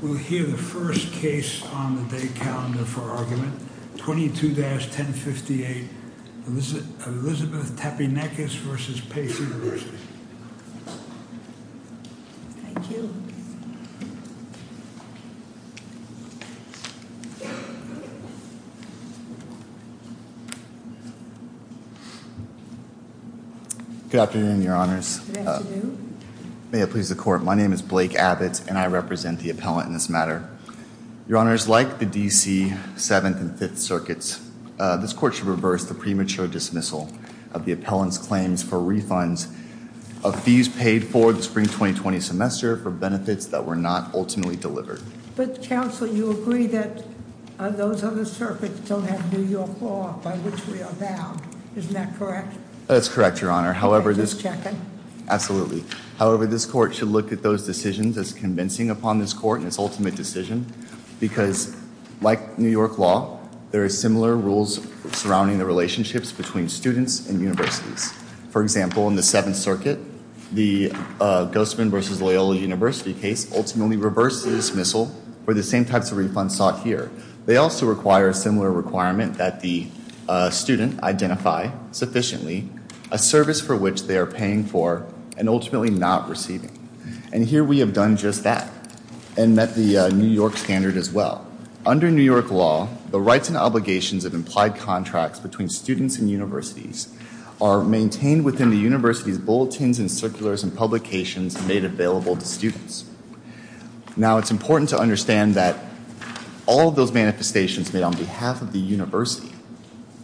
We'll hear the first case on the day calendar for argument, 22-1058, Elizabeth Tepinekis v. Pace University Good afternoon, your honors. May it please the court, my name is Blake Abbott and I represent the appellant in this matter. Your honors, like the D.C. Seventh and Fifth Circuits, this court should reverse the premature dismissal of the appellant's claims for refunds of fees paid for the spring 2020 semester for benefits that were not ultimately delivered. But counsel, you agree that those other circuits don't have New York law by which we are bound, isn't that correct? That's correct, your honor. Can I just check it? Absolutely. However, this court should look at those decisions as convincing upon this court and its ultimate decision because, like New York law, there are similar rules surrounding the relationships between students and universities. For example, in the Seventh Circuit, the Guzman v. Loyola University case ultimately reversed the dismissal for the same types of refunds sought here. They also require a similar requirement that the student identify sufficiently a service for which they are paying for and ultimately not receiving. And here we have done just that and met the New York standard as well. Under New York law, the rights and obligations of implied contracts between students and universities are maintained within the university's bulletins and circulars and publications made available to students. Now, it's important to understand that all of those manifestations made on behalf of the university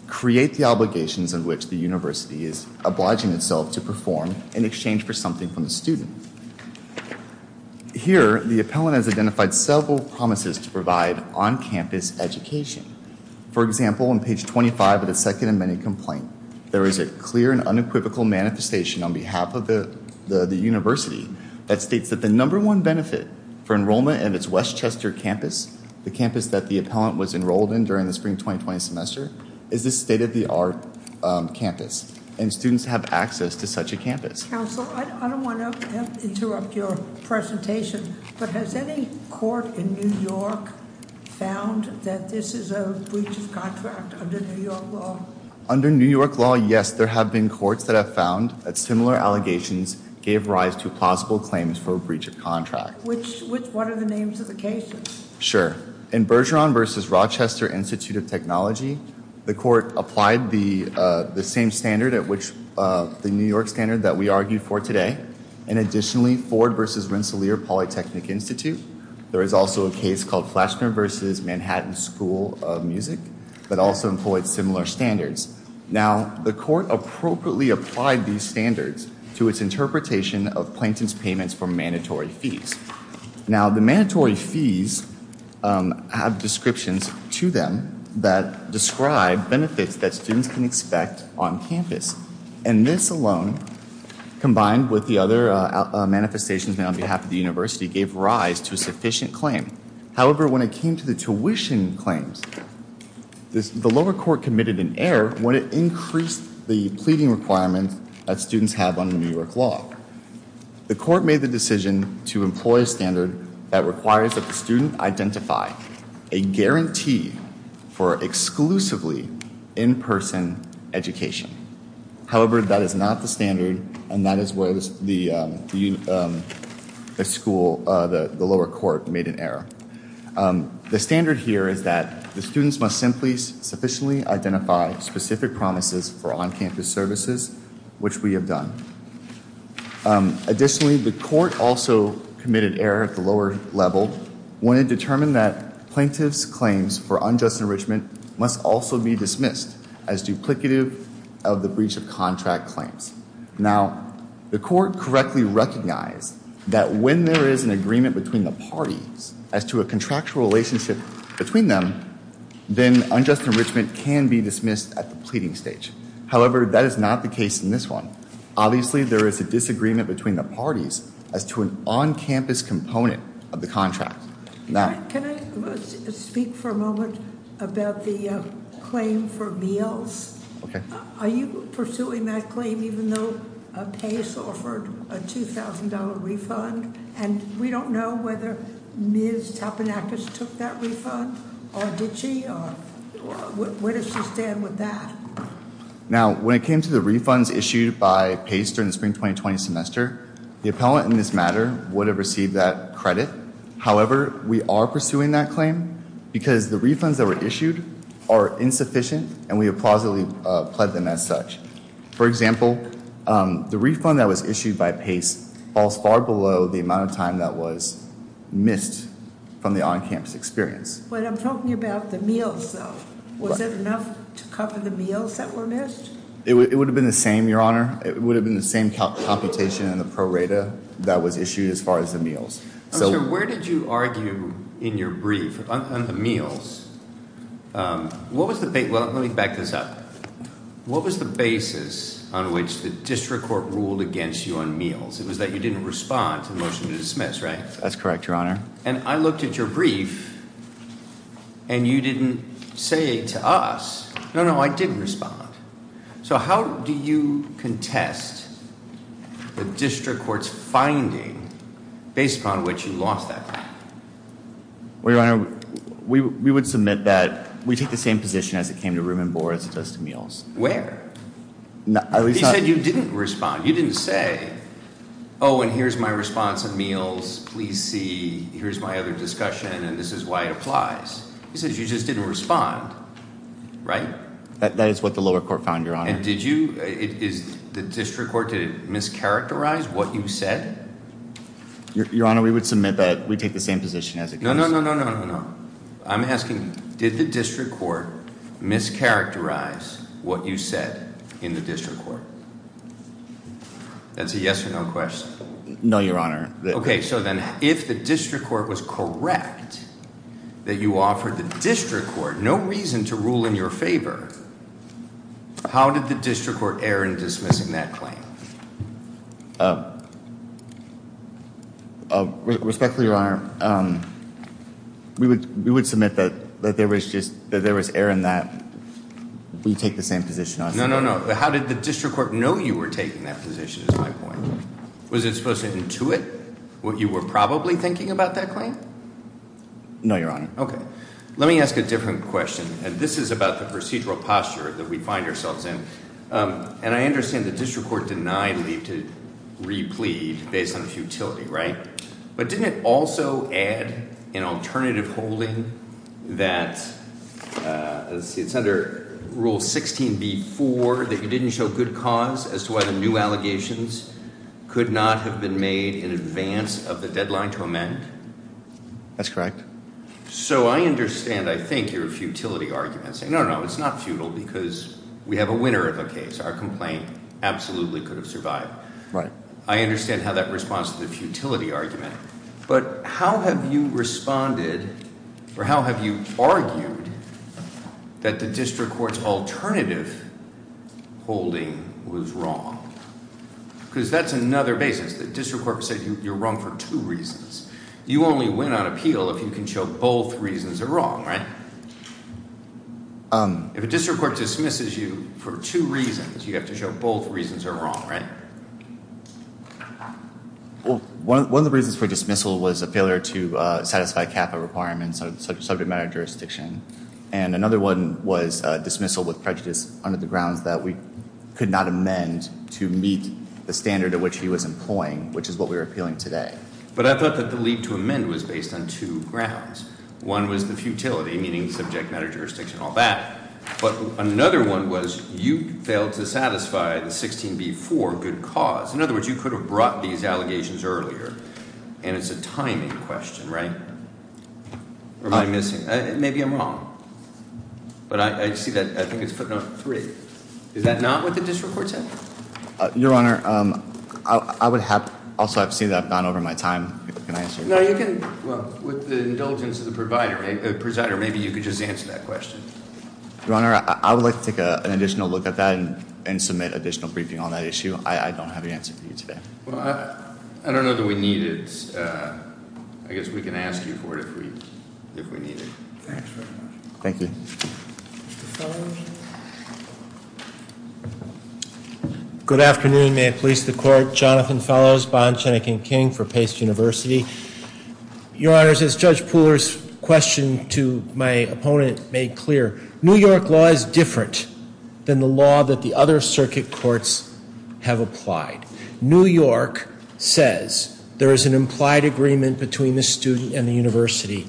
create the obligations in which the university is obliging itself to perform in exchange for something from the student. Here, the appellant has identified several promises to provide on-campus education. For example, on page 25 of the second amended complaint, there is a clear and unequivocal manifestation on behalf of the university that states that the number one benefit for enrollment in its Westchester campus, the campus that the appellant was enrolled in during the spring 2020 semester, is a state-of-the-art campus and students have access to such a campus. Counsel, I don't want to interrupt your presentation, but has any court in New York found that this is a breach of contract under New York law? Under New York law, yes, there have been courts that have found that similar allegations gave rise to plausible claims for a breach of contract. Which one are the names of the cases? Sure. In Bergeron v. Rochester Institute of Technology, the court applied the same standard, the New York standard that we argued for today, and additionally, Ford v. Rensselaer Polytechnic Institute. There is also a case called Flassner v. Manhattan School of Music that also employed similar standards. Now, the court appropriately applied these standards to its interpretation of plaintiff's payments for mandatory fees. Now, the mandatory fees have descriptions to them that describe benefits that students can expect on campus. And this alone, combined with the other manifestations made on behalf of the university, gave rise to a sufficient claim. However, when it came to the tuition claims, the lower court committed an error when it increased the pleading requirements that students have under New York law. The court made the decision to employ a standard that requires that the student identify a guarantee for exclusively in-person education. However, that is not the standard, and that is where the lower court made an error. The standard here is that the students must simply sufficiently identify specific promises for on-campus services, which we have done. Additionally, the court also committed error at the lower level when it determined that plaintiff's claims for unjust enrichment must also be dismissed as duplicative of the breach of contract claims. Now, the court correctly recognized that when there is an agreement between the parties as to a contractual relationship between them, then unjust enrichment can be dismissed at the pleading stage. However, that is not the case in this one. Obviously, there is a disagreement between the parties as to an on-campus component of the contract. Now- Can I speak for a moment about the claim for meals? Okay. Are you pursuing that claim even though Pace offered a $2,000 refund? And we don't know whether Ms. Tapenakis took that refund, or did she, or where does she stand with that? Now, when it came to the refunds issued by Pace during the spring 2020 semester, the appellant in this matter would have received that credit. However, we are pursuing that claim because the refunds that were issued are insufficient, and we have plausibly pled them as such. For example, the refund that was issued by Pace falls far below the amount of time that was missed from the on-campus experience. But I'm talking about the meals, though. Was it enough to cover the meals that were missed? It would have been the same, Your Honor. It would have been the same computation in the pro rata that was issued as far as the meals. Where did you argue in your brief on the meals? What was the- Well, let me back this up. What was the basis on which the district court ruled against you on meals? It was that you didn't respond to the motion to dismiss, right? That's correct, Your Honor. And I looked at your brief, and you didn't say to us, no, no, I didn't respond. So how do you contest the district court's finding based upon which you lost that claim? Well, Your Honor, we would submit that we take the same position as it came to room and board as it does to meals. Where? At least not- You said you didn't respond. You didn't say, oh, and here's my response on meals, please see, here's my other discussion, and this is why it applies. You said you just didn't respond, right? That is what the lower court found, Your Honor. And did you, is the district court, did it mischaracterize what you said? Your Honor, we would submit that we take the same position as it comes to- No, no, no, no, no, no, no. I'm asking, did the district court mischaracterize what you said in the district court? That's a yes or no question. No, Your Honor. Okay, so then, if the district court was correct that you offered the district court no reason to rule in your favor, how did the district court err in dismissing that claim? Respectfully, Your Honor, we would submit that there was error in that we take the same position as- No, no, no. How did the district court know you were taking that position is my point. Was it supposed to intuit what you were probably thinking about that claim? No, Your Honor. Okay. Let me ask a different question, and this is about the procedural posture that we find ourselves in. And I understand the district court denied leave to replead based on futility, right? But didn't it also add an alternative holding that it's under Rule 16b-4 that you didn't show good cause as to why the new allegations could not have been made in advance of the deadline to amend? That's correct. So I understand, I think, your futility argument saying, no, no, it's not futile because we have a winner of a case. Our complaint absolutely could have survived. Right. I understand how that responds to the futility argument. But how have you responded or how have you argued that the district court's alternative holding was wrong? Because that's another basis. The district court said you're wrong for two reasons. You only win on appeal if you can show both reasons are wrong, right? If a district court dismisses you for two reasons, you have to show both reasons are wrong, right? Well, one of the reasons for dismissal was a failure to satisfy CAPA requirements, subject matter jurisdiction. And another one was dismissal with prejudice under the grounds that we could not amend to meet the standard at which he was employing, which is what we were appealing today. But I thought that the lead to amend was based on two grounds. One was the futility, meaning subject matter jurisdiction and all that. But another one was you failed to satisfy the 16B-4 good cause. In other words, you could have brought these allegations earlier. And it's a timing question, right? Or am I missing? Maybe I'm wrong. But I see that, I think it's footnote three. Is that not what the district court said? Your Honor, I would have, also I've seen that I've gone over my time. Can I answer your question? No, you can, well, with the indulgence of the presider, maybe you could just answer that question. Your Honor, I would like to take an additional look at that and submit additional briefing on that issue. I don't have the answer for you today. Well, I don't know that we need it. I guess we can ask you for it if we need it. Thanks very much. Thank you. Mr. Fellows? Good afternoon. May it please the court. Jonathan Fellows, Bond, Shenick and King for Pace University. Your Honors, as Judge Pooler's question to my opponent made clear, New York law is different than the law that the other circuit courts have applied. New York says there is an implied agreement between the student and the university.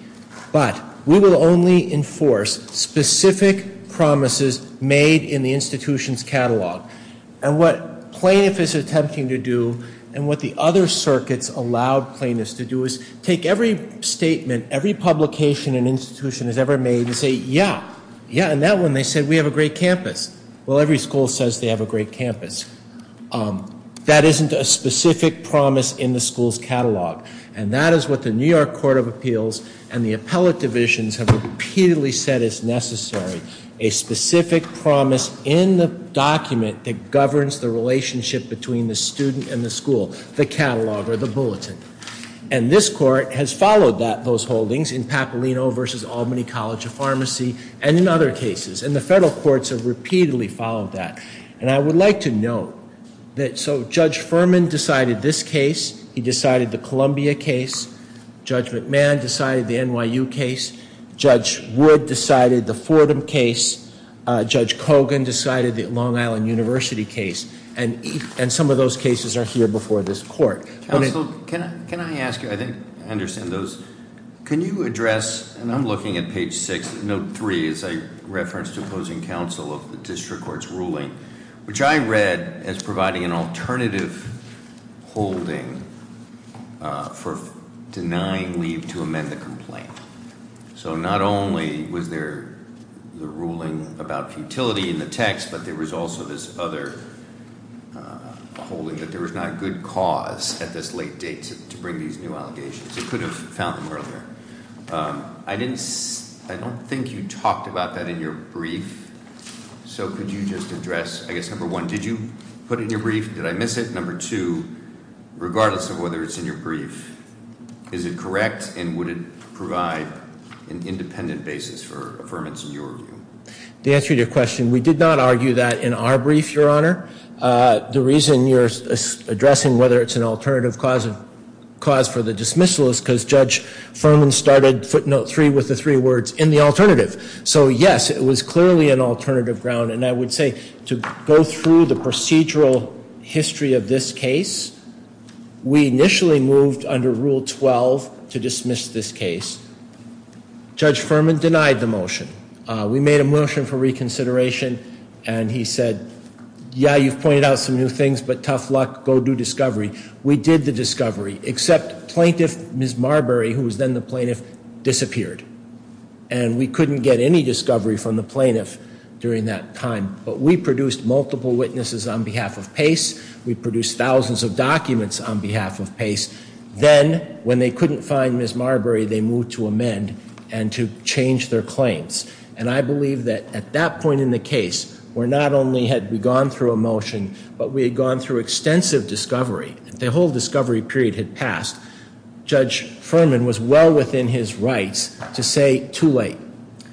But we will only enforce specific promises made in the institution's catalog. And what plaintiff is attempting to do and what the other circuits allowed plaintiffs to do is take every statement, every publication an institution has ever made and say, yeah, yeah, in that one they said we have a great campus. Well, every school says they have a great campus. That isn't a specific promise in the school's catalog. And that is what the New York Court of Appeals and the appellate divisions have repeatedly said is necessary, a specific promise in the document that governs the relationship between the student and the school, the catalog or the bulletin. And this court has followed those holdings in Papalino versus Albany College of Pharmacy and in other cases. And the federal courts have repeatedly followed that. And I would like to note that so Judge Furman decided this case. He decided the Columbia case. Judge McMahon decided the NYU case. Judge Wood decided the Fordham case. Judge Kogan decided the Long Island University case. And some of those cases are here before this court. Counsel, can I ask you? I think I understand those. Can you address, and I'm looking at page six, note three is a reference to opposing counsel of the district court's ruling, which I read as providing an alternative holding for denying leave to amend the complaint. So not only was there the ruling about futility in the text, but there was also this other holding that there was not good cause at this late date to bring these new allegations. It could have found them earlier. I don't think you talked about that in your brief. So could you just address, I guess, number one, did you put it in your brief? Did I miss it? Number two, regardless of whether it's in your brief, is it correct? And would it provide an independent basis for affirmance in your view? To answer your question, we did not argue that in our brief, Your Honor. The reason you're addressing whether it's an alternative cause for the dismissal is because Judge Furman started footnote three with the three words in the alternative. So, yes, it was clearly an alternative ground. And I would say to go through the procedural history of this case, we initially moved under Rule 12 to dismiss this case. Judge Furman denied the motion. We made a motion for reconsideration, and he said, yeah, you've pointed out some new things, but tough luck, go do discovery. We did the discovery, except plaintiff Ms. Marbury, who was then the plaintiff, disappeared. And we couldn't get any discovery from the plaintiff during that time. But we produced multiple witnesses on behalf of Pace. Then, when they couldn't find Ms. Marbury, they moved to amend and to change their claims. And I believe that at that point in the case, where not only had we gone through a motion, but we had gone through extensive discovery. The whole discovery period had passed. Judge Furman was well within his rights to say too late.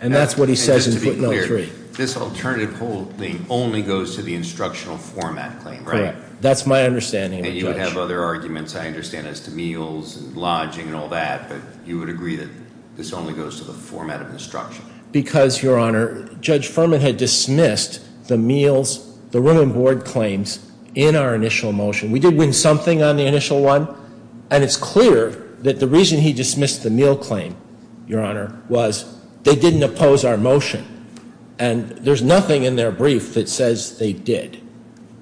And that's what he says in footnote three. Just to be clear, this alternative hold thing only goes to the instructional format claim, right? Correct. That's my understanding of it, Judge. And you would have other arguments, I understand, as to meals and lodging and all that. But you would agree that this only goes to the format of instruction? Because, Your Honor, Judge Furman had dismissed the meals, the room and board claims, in our initial motion. We did win something on the initial one. And it's clear that the reason he dismissed the meal claim, Your Honor, was they didn't oppose our motion. And there's nothing in their brief that says they did.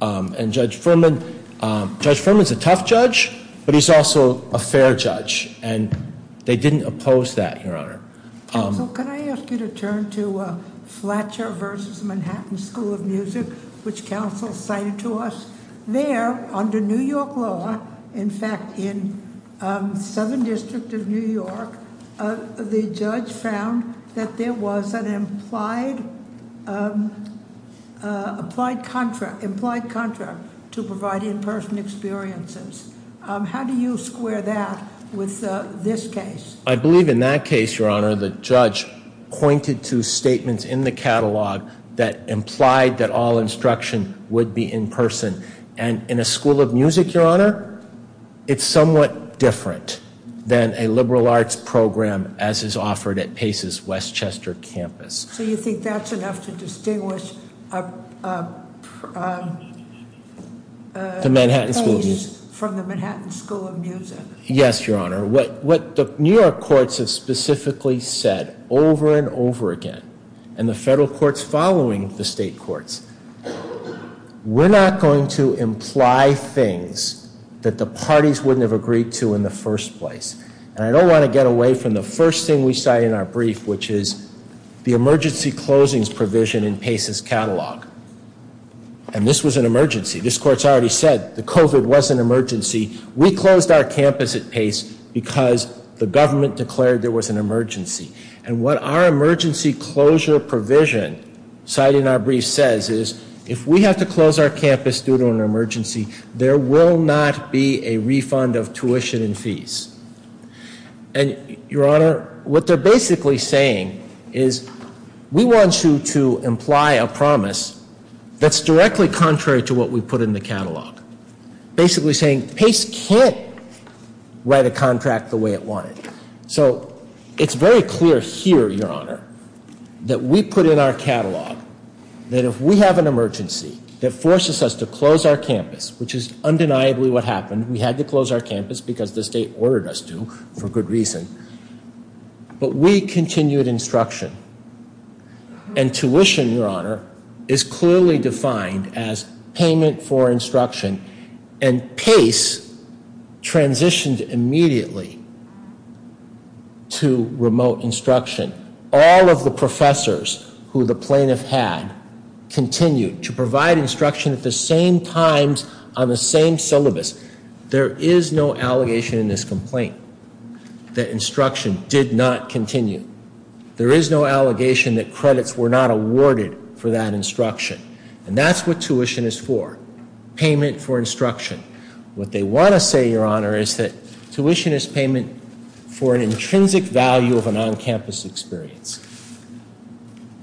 And Judge Furman's a tough judge, but he's also a fair judge. And they didn't oppose that, Your Honor. Counsel, can I ask you to turn to Fletcher versus Manhattan School of Music, which counsel cited to us? There, under New York law, in fact, in 7th District of New York, the judge found that there was an implied contract to provide in-person experiences. How do you square that with this case? I believe in that case, Your Honor, the judge pointed to statements in the catalog that implied that all instruction would be in-person. And in a school of music, Your Honor, it's somewhat different than a liberal arts program as is offered at Pace's Westchester campus. So you think that's enough to distinguish The Manhattan School of Music. Pace from the Manhattan School of Music. Yes, Your Honor. What the New York courts have specifically said over and over again, and the federal courts following the state courts, we're not going to imply things that the parties wouldn't have agreed to in the first place. And I don't want to get away from the first thing we cite in our brief, which is the emergency closings provision in Pace's catalog. And this was an emergency. This court's already said the COVID was an emergency. We closed our campus at Pace because the government declared there was an emergency. And what our emergency closure provision, citing our brief, says is if we have to close our campus due to an emergency, there will not be a refund of tuition and fees. And, Your Honor, what they're basically saying is we want you to imply a promise that's directly contrary to what we put in the catalog. Basically saying Pace can't write a contract the way it wanted. So, it's very clear here, Your Honor, that we put in our catalog that if we have an emergency that forces us to close our campus, which is undeniably what happened. We had to close our campus because the state ordered us to for good reason. But we continued instruction. And tuition, Your Honor, is clearly defined as payment for instruction. And Pace transitioned immediately to remote instruction. All of the professors who the plaintiff had continued to provide instruction at the same times on the same syllabus. There is no allegation in this complaint that instruction did not continue. There is no allegation that credits were not awarded for that instruction. And that's what tuition is for. Payment for instruction. What they want to say, Your Honor, is that tuition is payment for an intrinsic value of an on-campus experience.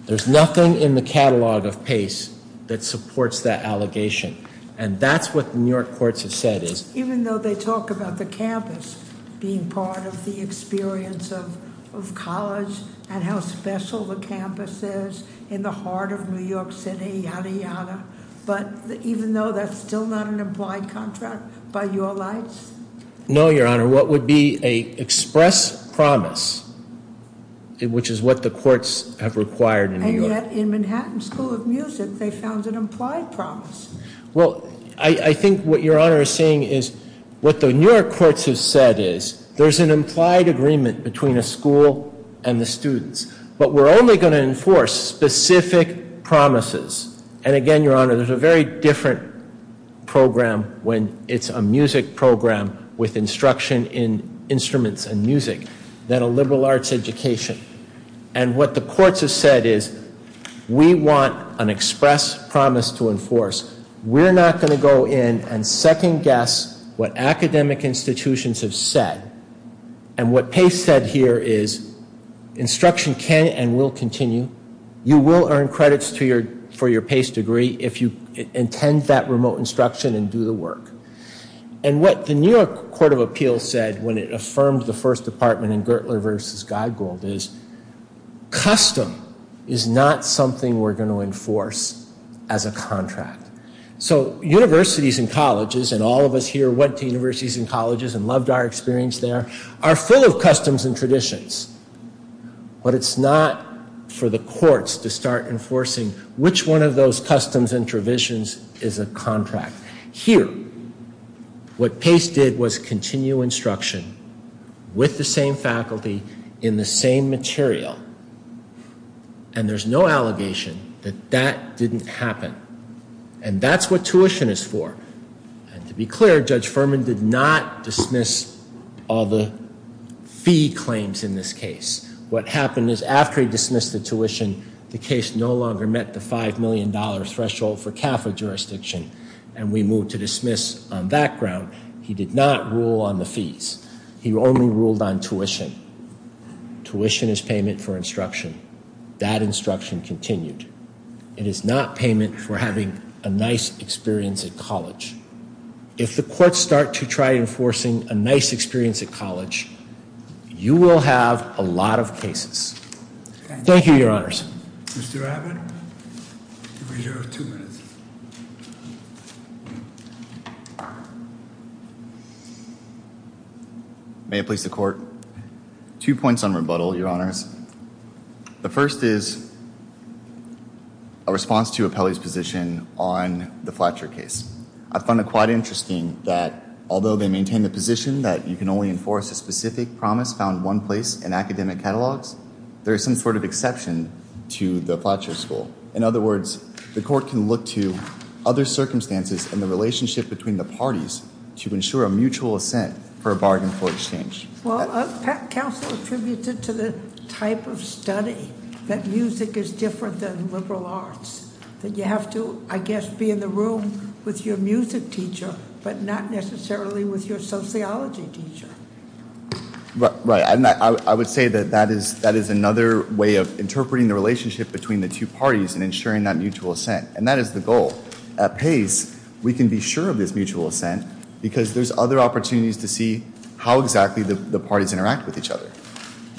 There's nothing in the catalog of Pace that supports that allegation. And that's what New York courts have said is- Even though they talk about the campus being part of the experience of college and how special the campus is in the heart of New York City, yada, yada. But even though that's still not an implied contract by your lights? No, Your Honor. What would be an express promise? Which is what the courts have required in New York. And yet in Manhattan School of Music, they found an implied promise. Well, I think what Your Honor is saying is what the New York courts have said is there's an implied agreement between a school and the students. But we're only going to enforce specific promises. And again, Your Honor, there's a very different program when it's a music program with instruction in instruments and music than a liberal arts education. And what the courts have said is we want an express promise to enforce. We're not going to go in and second-guess what academic institutions have said. And what Pace said here is instruction can and will continue. You will earn credits for your Pace degree if you intend that remote instruction and do the work. And what the New York Court of Appeals said when it affirmed the first department in Gertler v. Geigold is custom is not something we're going to enforce as a contract. So universities and colleges, and all of us here went to universities and colleges and loved our experience there, are full of customs and traditions. But it's not for the courts to start enforcing which one of those customs and traditions is a contract. Here, what Pace did was continue instruction with the same faculty in the same material. And there's no allegation that that didn't happen. And that's what tuition is for. And to be clear, Judge Furman did not dismiss all the fee claims in this case. What happened is after he dismissed the tuition, the case no longer met the $5 million threshold for CAFA jurisdiction, and we moved to dismiss on that ground. He did not rule on the fees. He only ruled on tuition. Tuition is payment for instruction. It is not payment for having a nice experience at college. If the courts start to try enforcing a nice experience at college, you will have a lot of cases. Thank you, Your Honors. Mr. Abbott, you have two minutes. May it please the Court. Two points on rebuttal, Your Honors. The first is a response to Apelli's position on the Flatcher case. I find it quite interesting that although they maintain the position that you can only enforce a specific promise found one place in academic catalogs, there is some sort of exception to the Flatcher school. In other words, the Court can look to other circumstances and the relationship between the parties to ensure a mutual assent for a bargain for exchange. Well, counsel attributed to the type of study that music is different than liberal arts. You have to, I guess, be in the room with your music teacher but not necessarily with your sociology teacher. Right. I would say that that is another way of interpreting the relationship between the two parties and ensuring that mutual assent. And that is the goal. At Pace, we can be sure of this mutual assent because there's other opportunities to see how exactly the parties interact with each other.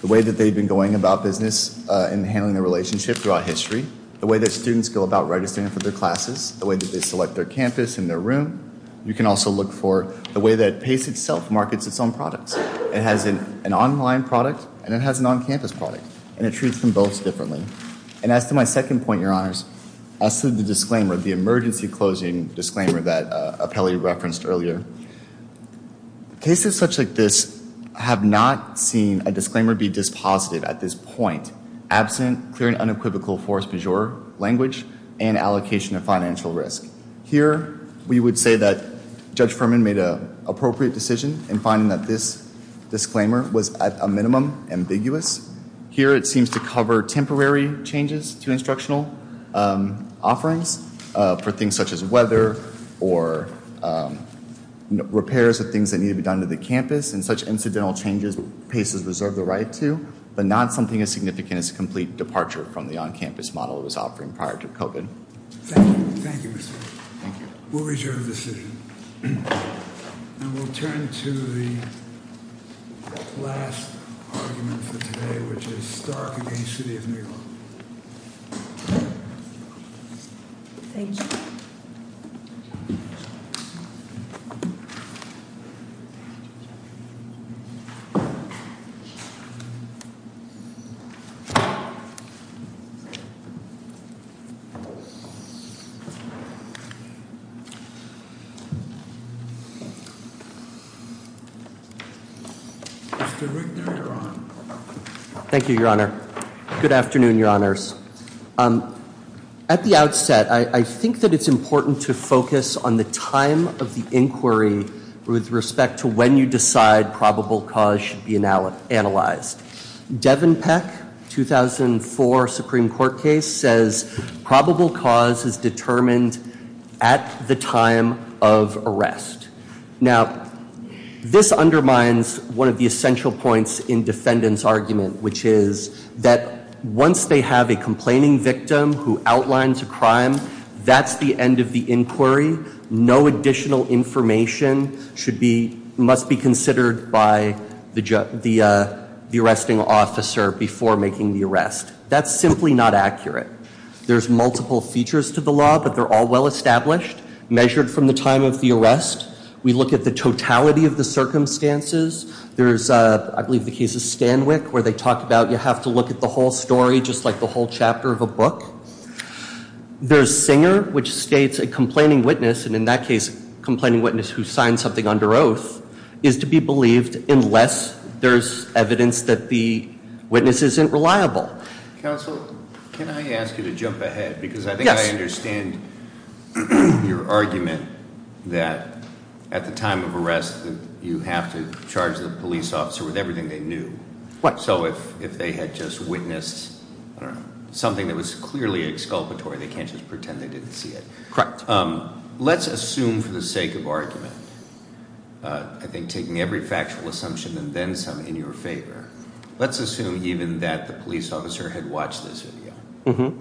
The way that they've been going about business and handling the relationship throughout history, the way that students go about registering for their classes, the way that they select their campus and their room. You can also look for the way that Pace itself markets its own products. It has an online product and it has an on-campus product and it treats them both differently. And as to my second point, Your Honors, as to the disclaimer, the emergency closing disclaimer that Apelli referenced earlier, cases such like this have not seen a disclaimer be dispositive at this point, absent clear and unequivocal force majeure language and allocation of financial risk. Here, we would say that Judge Furman made an appropriate decision in finding that this disclaimer was, at a minimum, ambiguous. Here, it seems to cover temporary changes to instructional offerings for things such as weather or repairs of things that need to be done to the campus. And such incidental changes, Pace has reserved the right to, but not something as significant as a complete departure from the on-campus model it was offering prior to COVID. Thank you. Thank you, Mr. We'll adjourn the decision. And we'll turn to the last argument for today, which is Stark against City of New York. Thank you. Mr. Rickner, you're on. Thank you, Your Honor. Good afternoon, Your Honors. At the outset, I think that it's important to focus on the time of the inquiry with respect to when you decide probable cause should be analyzed. Devon Peck, 2004 Supreme Court case, says probable cause is determined at the time of arrest. Now, this undermines one of the essential points in defendant's argument, which is that once they have a complaining victim who outlines a crime, that's the end of the inquiry. No additional information must be considered by the arresting officer before making the arrest. That's simply not accurate. There's multiple features to the law, but they're all well-established, measured from the time of the arrest. We look at the totality of the circumstances. There's, I believe the case of Stanwyck, where they talk about you have to look at the whole story just like the whole chapter of a book. There's Singer, which states a complaining witness, and in that case a complaining witness who signed something under oath, is to be believed unless there's evidence that the witness isn't reliable. Counsel, can I ask you to jump ahead? Yes. Because I think I understand your argument that at the time of arrest you have to charge the police officer with everything they knew. What? So if they had just witnessed something that was clearly exculpatory, they can't just pretend they didn't see it. Correct. Let's assume for the sake of argument, I think taking every factual assumption and then some in your favor, let's assume even that the police officer had watched this video.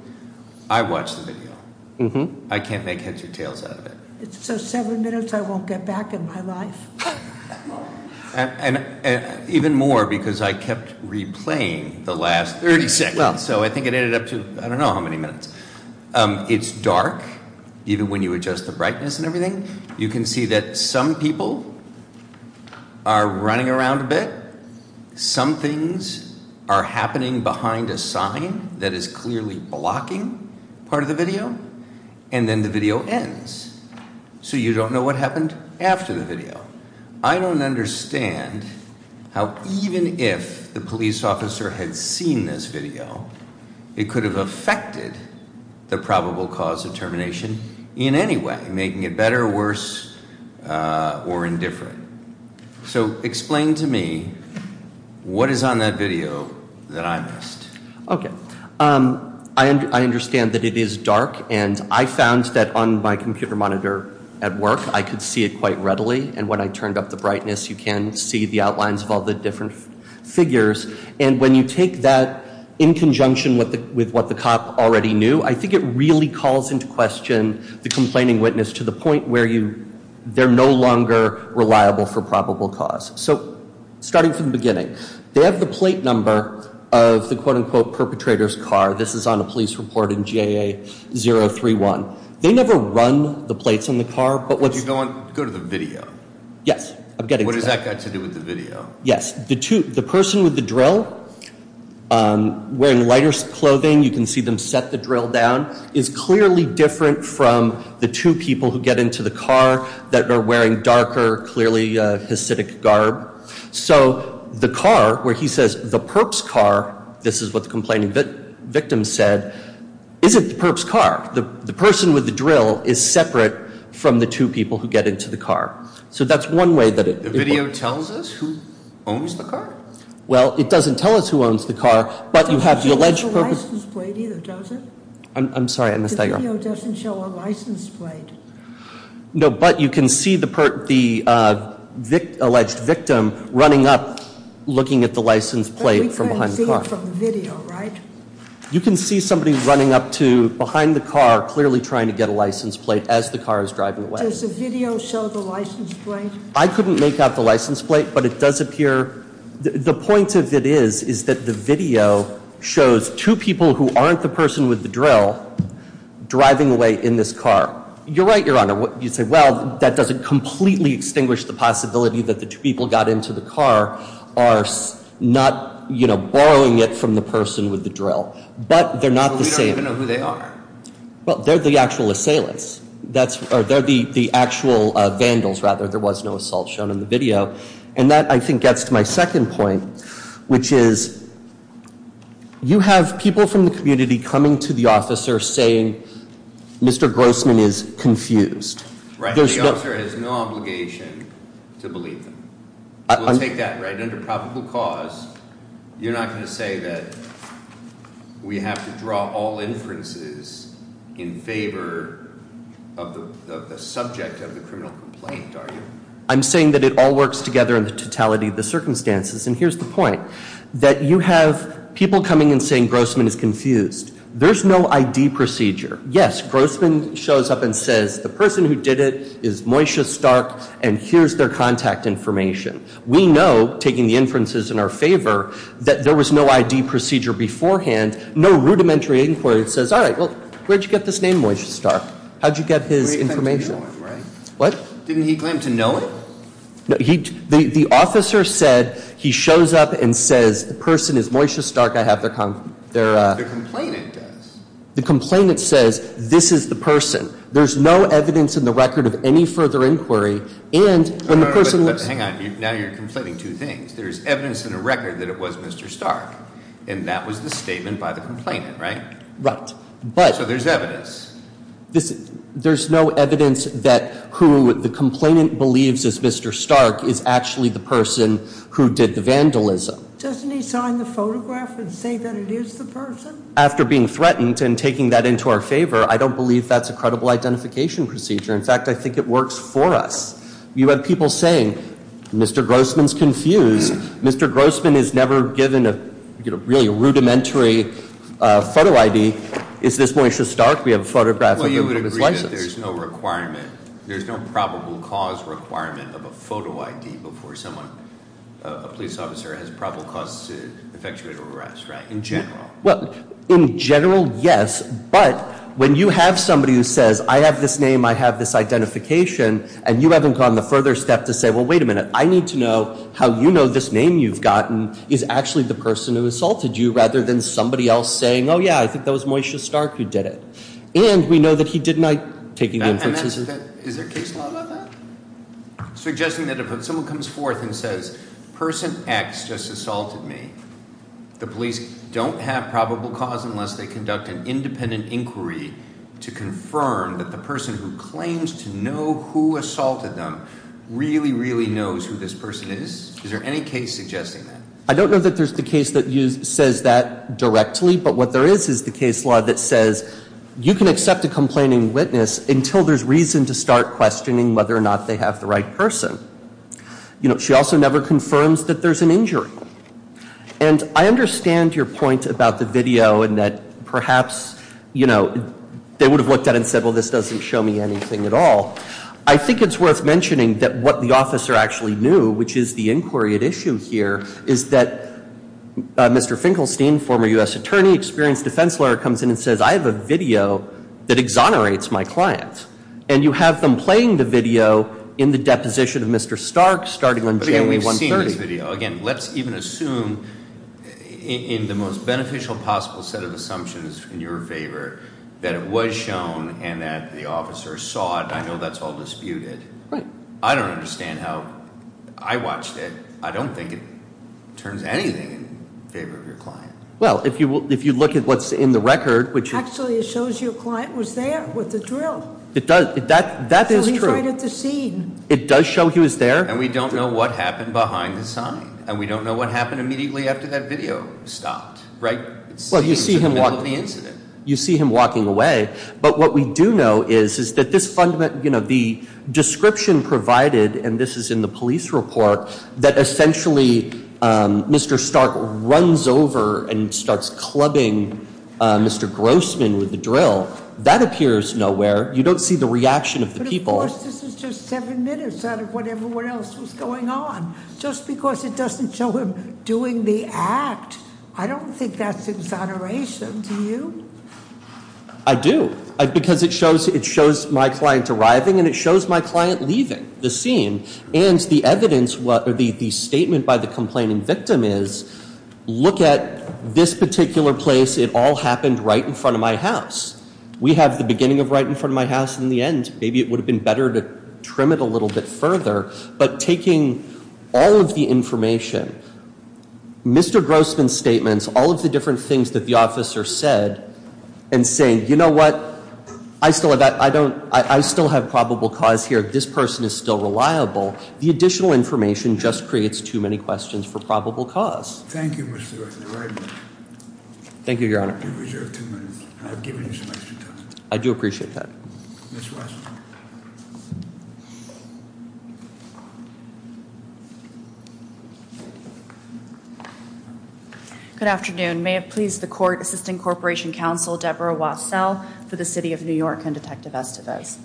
I watched the video. I can't make heads or tails out of it. So seven minutes I won't get back in my life. And even more because I kept replaying the last 30 seconds, so I think it ended up to I don't know how many minutes. It's dark even when you adjust the brightness and everything. You can see that some people are running around a bit. Some things are happening behind a sign that is clearly blocking part of the video, and then the video ends. So you don't know what happened after the video. I don't understand how even if the police officer had seen this video, it could have affected the probable cause of termination in any way, making it better or worse or indifferent. So explain to me what is on that video that I missed. Okay. I understand that it is dark, and I found that on my computer monitor at work I could see it quite readily, and when I turned up the brightness, you can see the outlines of all the different figures. And when you take that in conjunction with what the cop already knew, I think it really calls into question the complaining witness to the point where they're no longer reliable for probable cause. So starting from the beginning, they have the plate number of the quote-unquote perpetrator's car. This is on a police report in GAA-031. They never run the plates on the car. But what's going on? Go to the video. Yes. I'm getting to that. What does that got to do with the video? Yes. The person with the drill, wearing lighter clothing, you can see them set the drill down, is clearly different from the two people who get into the car that are wearing darker, clearly a Hasidic garb. So the car, where he says the perp's car, this is what the complaining victim said, isn't the perp's car. The person with the drill is separate from the two people who get into the car. So that's one way that it. The video tells us who owns the car? Well, it doesn't tell us who owns the car, but you have the alleged. It doesn't show a license plate either, does it? I'm sorry. The video doesn't show a license plate. No, but you can see the alleged victim running up, looking at the license plate from behind the car. But we can't see it from the video, right? You can see somebody running up to behind the car, clearly trying to get a license plate as the car is driving away. Does the video show the license plate? I couldn't make out the license plate, but it does appear. The point of it is, is that the video shows two people who aren't the person with the drill driving away in this car. You're right, Your Honor. You say, well, that doesn't completely extinguish the possibility that the two people got into the car are not, you know, borrowing it from the person with the drill. But they're not the same. But we don't even know who they are. Well, they're the actual assailants. They're the actual vandals, rather. There was no assault shown in the video. And that, I think, gets to my second point, which is you have people from the community coming to the officer saying Mr. Grossman is confused. Right. The officer has no obligation to believe them. We'll take that, right? Under probable cause, you're not going to say that we have to draw all inferences in favor of the subject of the criminal complaint, are you? I'm saying that it all works together in the totality of the circumstances. And here's the point, that you have people coming and saying Grossman is confused. There's no ID procedure. Yes, Grossman shows up and says the person who did it is Moisha Stark, and here's their contact information. We know, taking the inferences in our favor, that there was no ID procedure beforehand, no rudimentary inquiry that says, all right, well, where'd you get this name, Moisha Stark? How'd you get his information? What? Didn't he claim to know it? The officer said he shows up and says the person is Moisha Stark. I have their- The complainant does. The complainant says this is the person. There's no evidence in the record of any further inquiry, and when the person was- Hang on, now you're conflating two things. There's evidence in the record that it was Mr. Stark, and that was the statement by the complainant, right? Right, but- So there's evidence. There's no evidence that who the complainant believes is Mr. Stark is actually the person who did the vandalism. Doesn't he sign the photograph and say that it is the person? After being threatened and taking that into our favor, I don't believe that's a credible identification procedure. In fact, I think it works for us. You have people saying, Mr. Grossman's confused. Mr. Grossman is never given a really rudimentary photo ID. Is this Moisha Stark? We have a photograph of him with his license. Well, you would agree that there's no requirement. There's no probable cause requirement of a photo ID before someone, a police officer, has probable cause to effectuate an arrest, right, in general? Well, in general, yes, but when you have somebody who says, I have this name, I have this identification, and you haven't gone the further step to say, well, wait a minute, I need to know how you know this name you've gotten is actually the person who assaulted you, rather than somebody else saying, oh, yeah, I think that was Moisha Stark who did it. And we know that he did not take any inferences. Is there case law about that? Suggesting that if someone comes forth and says, person X just assaulted me, the police don't have probable cause unless they conduct an independent inquiry to confirm that the person who claims to know who assaulted them really, really knows who this person is? Is there any case suggesting that? I don't know that there's the case that says that directly, but what there is is the case law that says you can accept a complaining witness until there's reason to start questioning whether or not they have the right person. You know, she also never confirms that there's an injury. And I understand your point about the video and that perhaps, you know, they would have looked at it and said, well, this doesn't show me anything at all. I think it's worth mentioning that what the officer actually knew, which is the inquiry at issue here, is that Mr. Finkelstein, former U.S. attorney, experienced defense lawyer, comes in and says I have a video that exonerates my clients. And you have them playing the video in the deposition of Mr. Stark starting on January 1, 1930. But again, we've seen this video. Again, let's even assume in the most beneficial possible set of assumptions in your favor that it was shown and that the officer saw it. I know that's all disputed. Right. I don't understand how I watched it. I don't think it turns anything in favor of your client. Well, if you look at what's in the record, which- Actually, it shows your client was there with the drill. It does. That is true. So he's right at the scene. It does show he was there. And we don't know what happened behind the sign. And we don't know what happened immediately after that video stopped. Right? It seems in the middle of the incident. You see him walking away. But what we do know is that the description provided, and this is in the police report, that essentially Mr. Stark runs over and starts clubbing Mr. Grossman with the drill, that appears nowhere. You don't see the reaction of the people. But, of course, this is just seven minutes out of what everyone else was going on. Just because it doesn't show him doing the act, I don't think that's exoneration. Do you? I do. Because it shows my client arriving and it shows my client leaving the scene. And the evidence, the statement by the complaining victim is, look at this particular place. It all happened right in front of my house. We have the beginning of right in front of my house and the end. Maybe it would have been better to trim it a little bit further. But taking all of the information, Mr. Grossman's statements, all of the different things that the officer said, and saying, you know what, I still have probable cause here. This person is still reliable. The additional information just creates too many questions for probable cause. Thank you, Mr. Leslie, very much. Thank you, Your Honor. You reserve two minutes. I've given you some extra time. I do appreciate that. Ms. Washington. Good afternoon. May it please the Court, Assistant Corporation Counsel Deborah Wassell for the City of New York and Detective Estevez.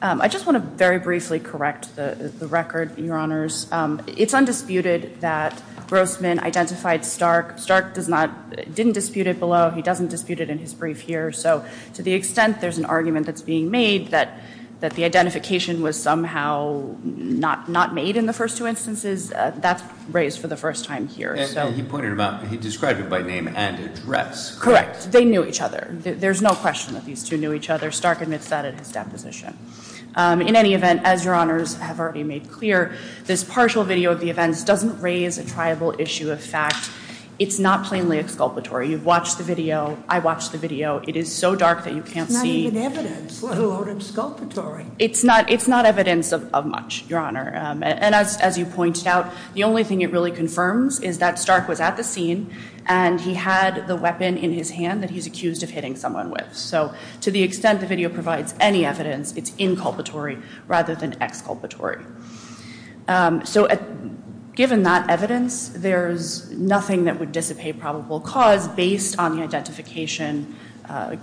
I just want to very briefly correct the record, Your Honors. It's undisputed that Grossman identified Stark. Stark didn't dispute it below. He doesn't dispute it in his brief here. So to the extent there's an argument that's being made, that the identification was somehow not made in the first two instances, that's raised for the first time here. He described it by name and address. Correct. They knew each other. There's no question that these two knew each other. Stark admits that in his deposition. In any event, as Your Honors have already made clear, this partial video of the events doesn't raise a triable issue of fact. It's not plainly exculpatory. You've watched the video. I watched the video. It is so dark that you can't see. There's not even evidence, let alone exculpatory. It's not evidence of much, Your Honor. And as you pointed out, the only thing it really confirms is that Stark was at the scene and he had the weapon in his hand that he's accused of hitting someone with. So to the extent the video provides any evidence, it's inculpatory rather than exculpatory. So given that evidence, there's nothing that would dissipate probable cause based on the identification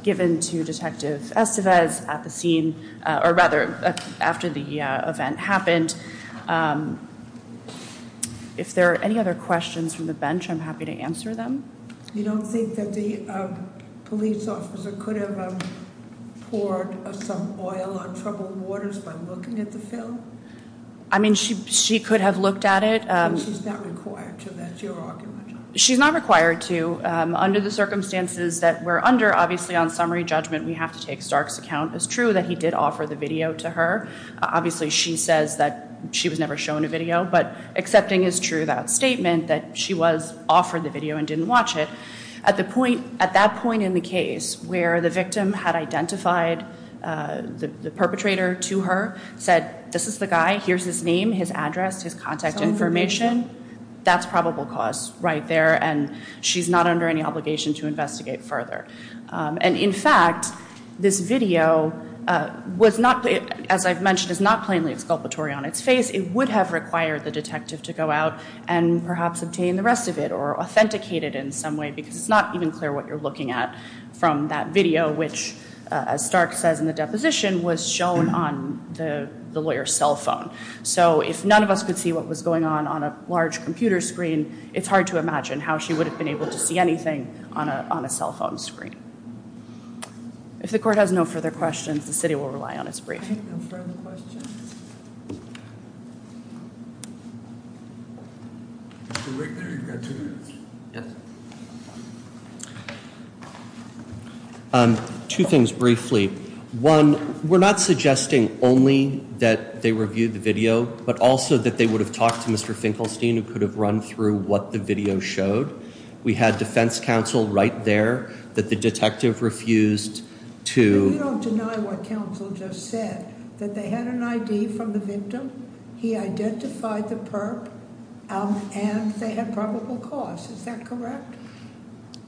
given to Detective Estevez at the scene, or rather after the event happened. If there are any other questions from the bench, I'm happy to answer them. You don't think that the police officer could have poured some oil on troubled waters by looking at the film? I mean, she could have looked at it. She's not required to. That's your argument. She's not required to. Under the circumstances that we're under, obviously on summary judgment we have to take Stark's account as true that he did offer the video to her. Obviously she says that she was never shown a video, but accepting is true that statement that she was offered the video and didn't watch it. At that point in the case where the victim had identified the perpetrator to her, said, this is the guy, here's his name, his address, his contact information, that's probable cause right there, and she's not under any obligation to investigate further. And, in fact, this video was not, as I've mentioned, is not plainly exculpatory on its face. It would have required the detective to go out and perhaps obtain the rest of it or authenticate it in some way because it's not even clear what you're looking at from that video, which, as Stark says in the deposition, was shown on the lawyer's cell phone. So if none of us could see what was going on on a large computer screen, it's hard to imagine how she would have been able to see anything on a cell phone screen. If the court has no further questions, the city will rely on its briefing. No further questions? Mr. Wigner, you've got two minutes. Two things briefly. One, we're not suggesting only that they reviewed the video but also that they would have talked to Mr. Finkelstein who could have run through what the video showed. We had defense counsel right there that the detective refused to We don't deny what counsel just said, that they had an ID from the victim, he identified the perp, and they had probable cause. Is that correct?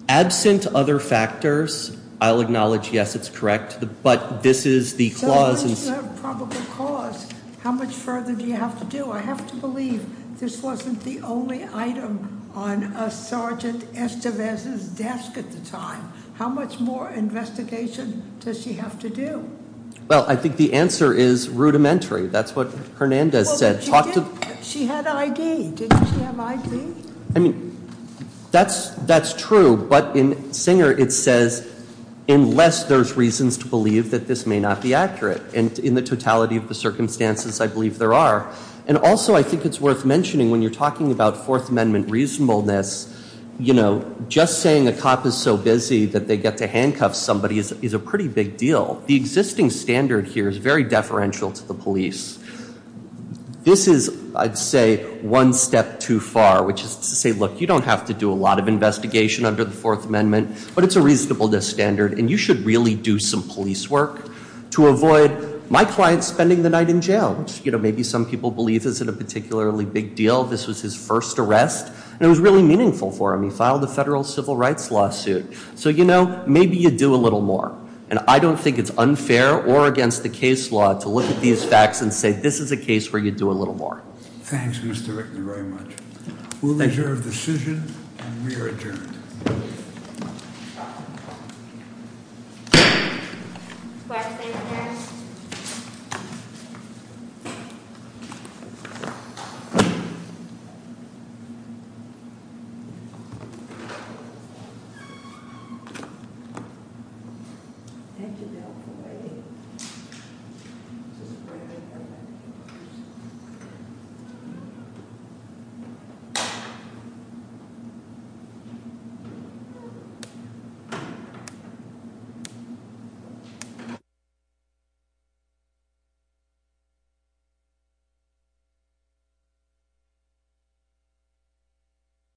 Absent other factors, I'll acknowledge, yes, it's correct, but this is the clause So unless you have probable cause, how much further do you have to do? I have to believe this wasn't the only item on Sergeant Estevez's desk at the time. How much more investigation does she have to do? Well, I think the answer is rudimentary. That's what Hernandez said. She had ID. Didn't she have ID? That's true, but in Singer it says unless there's reasons to believe that this may not be accurate. In the totality of the circumstances, I believe there are. And also I think it's worth mentioning when you're talking about Fourth Amendment reasonableness, just saying a cop is so busy that they get to handcuff somebody is a pretty big deal. The existing standard here is very deferential to the police. This is, I'd say, one step too far, which is to say, look, you don't have to do a lot of investigation under the Fourth Amendment, but it's a reasonableness standard, and you should really do some police work to avoid my client spending the night in jail, which maybe some people believe isn't a particularly big deal. This was his first arrest, and it was really meaningful for him. He filed a federal civil rights lawsuit. So, you know, maybe you do a little more, and I don't think it's unfair or against the case law to look at these facts and say this is a case where you do a little more. Thanks, Mr. Rickman, very much. We'll adjourn the decision, and we are adjourned. Thank you.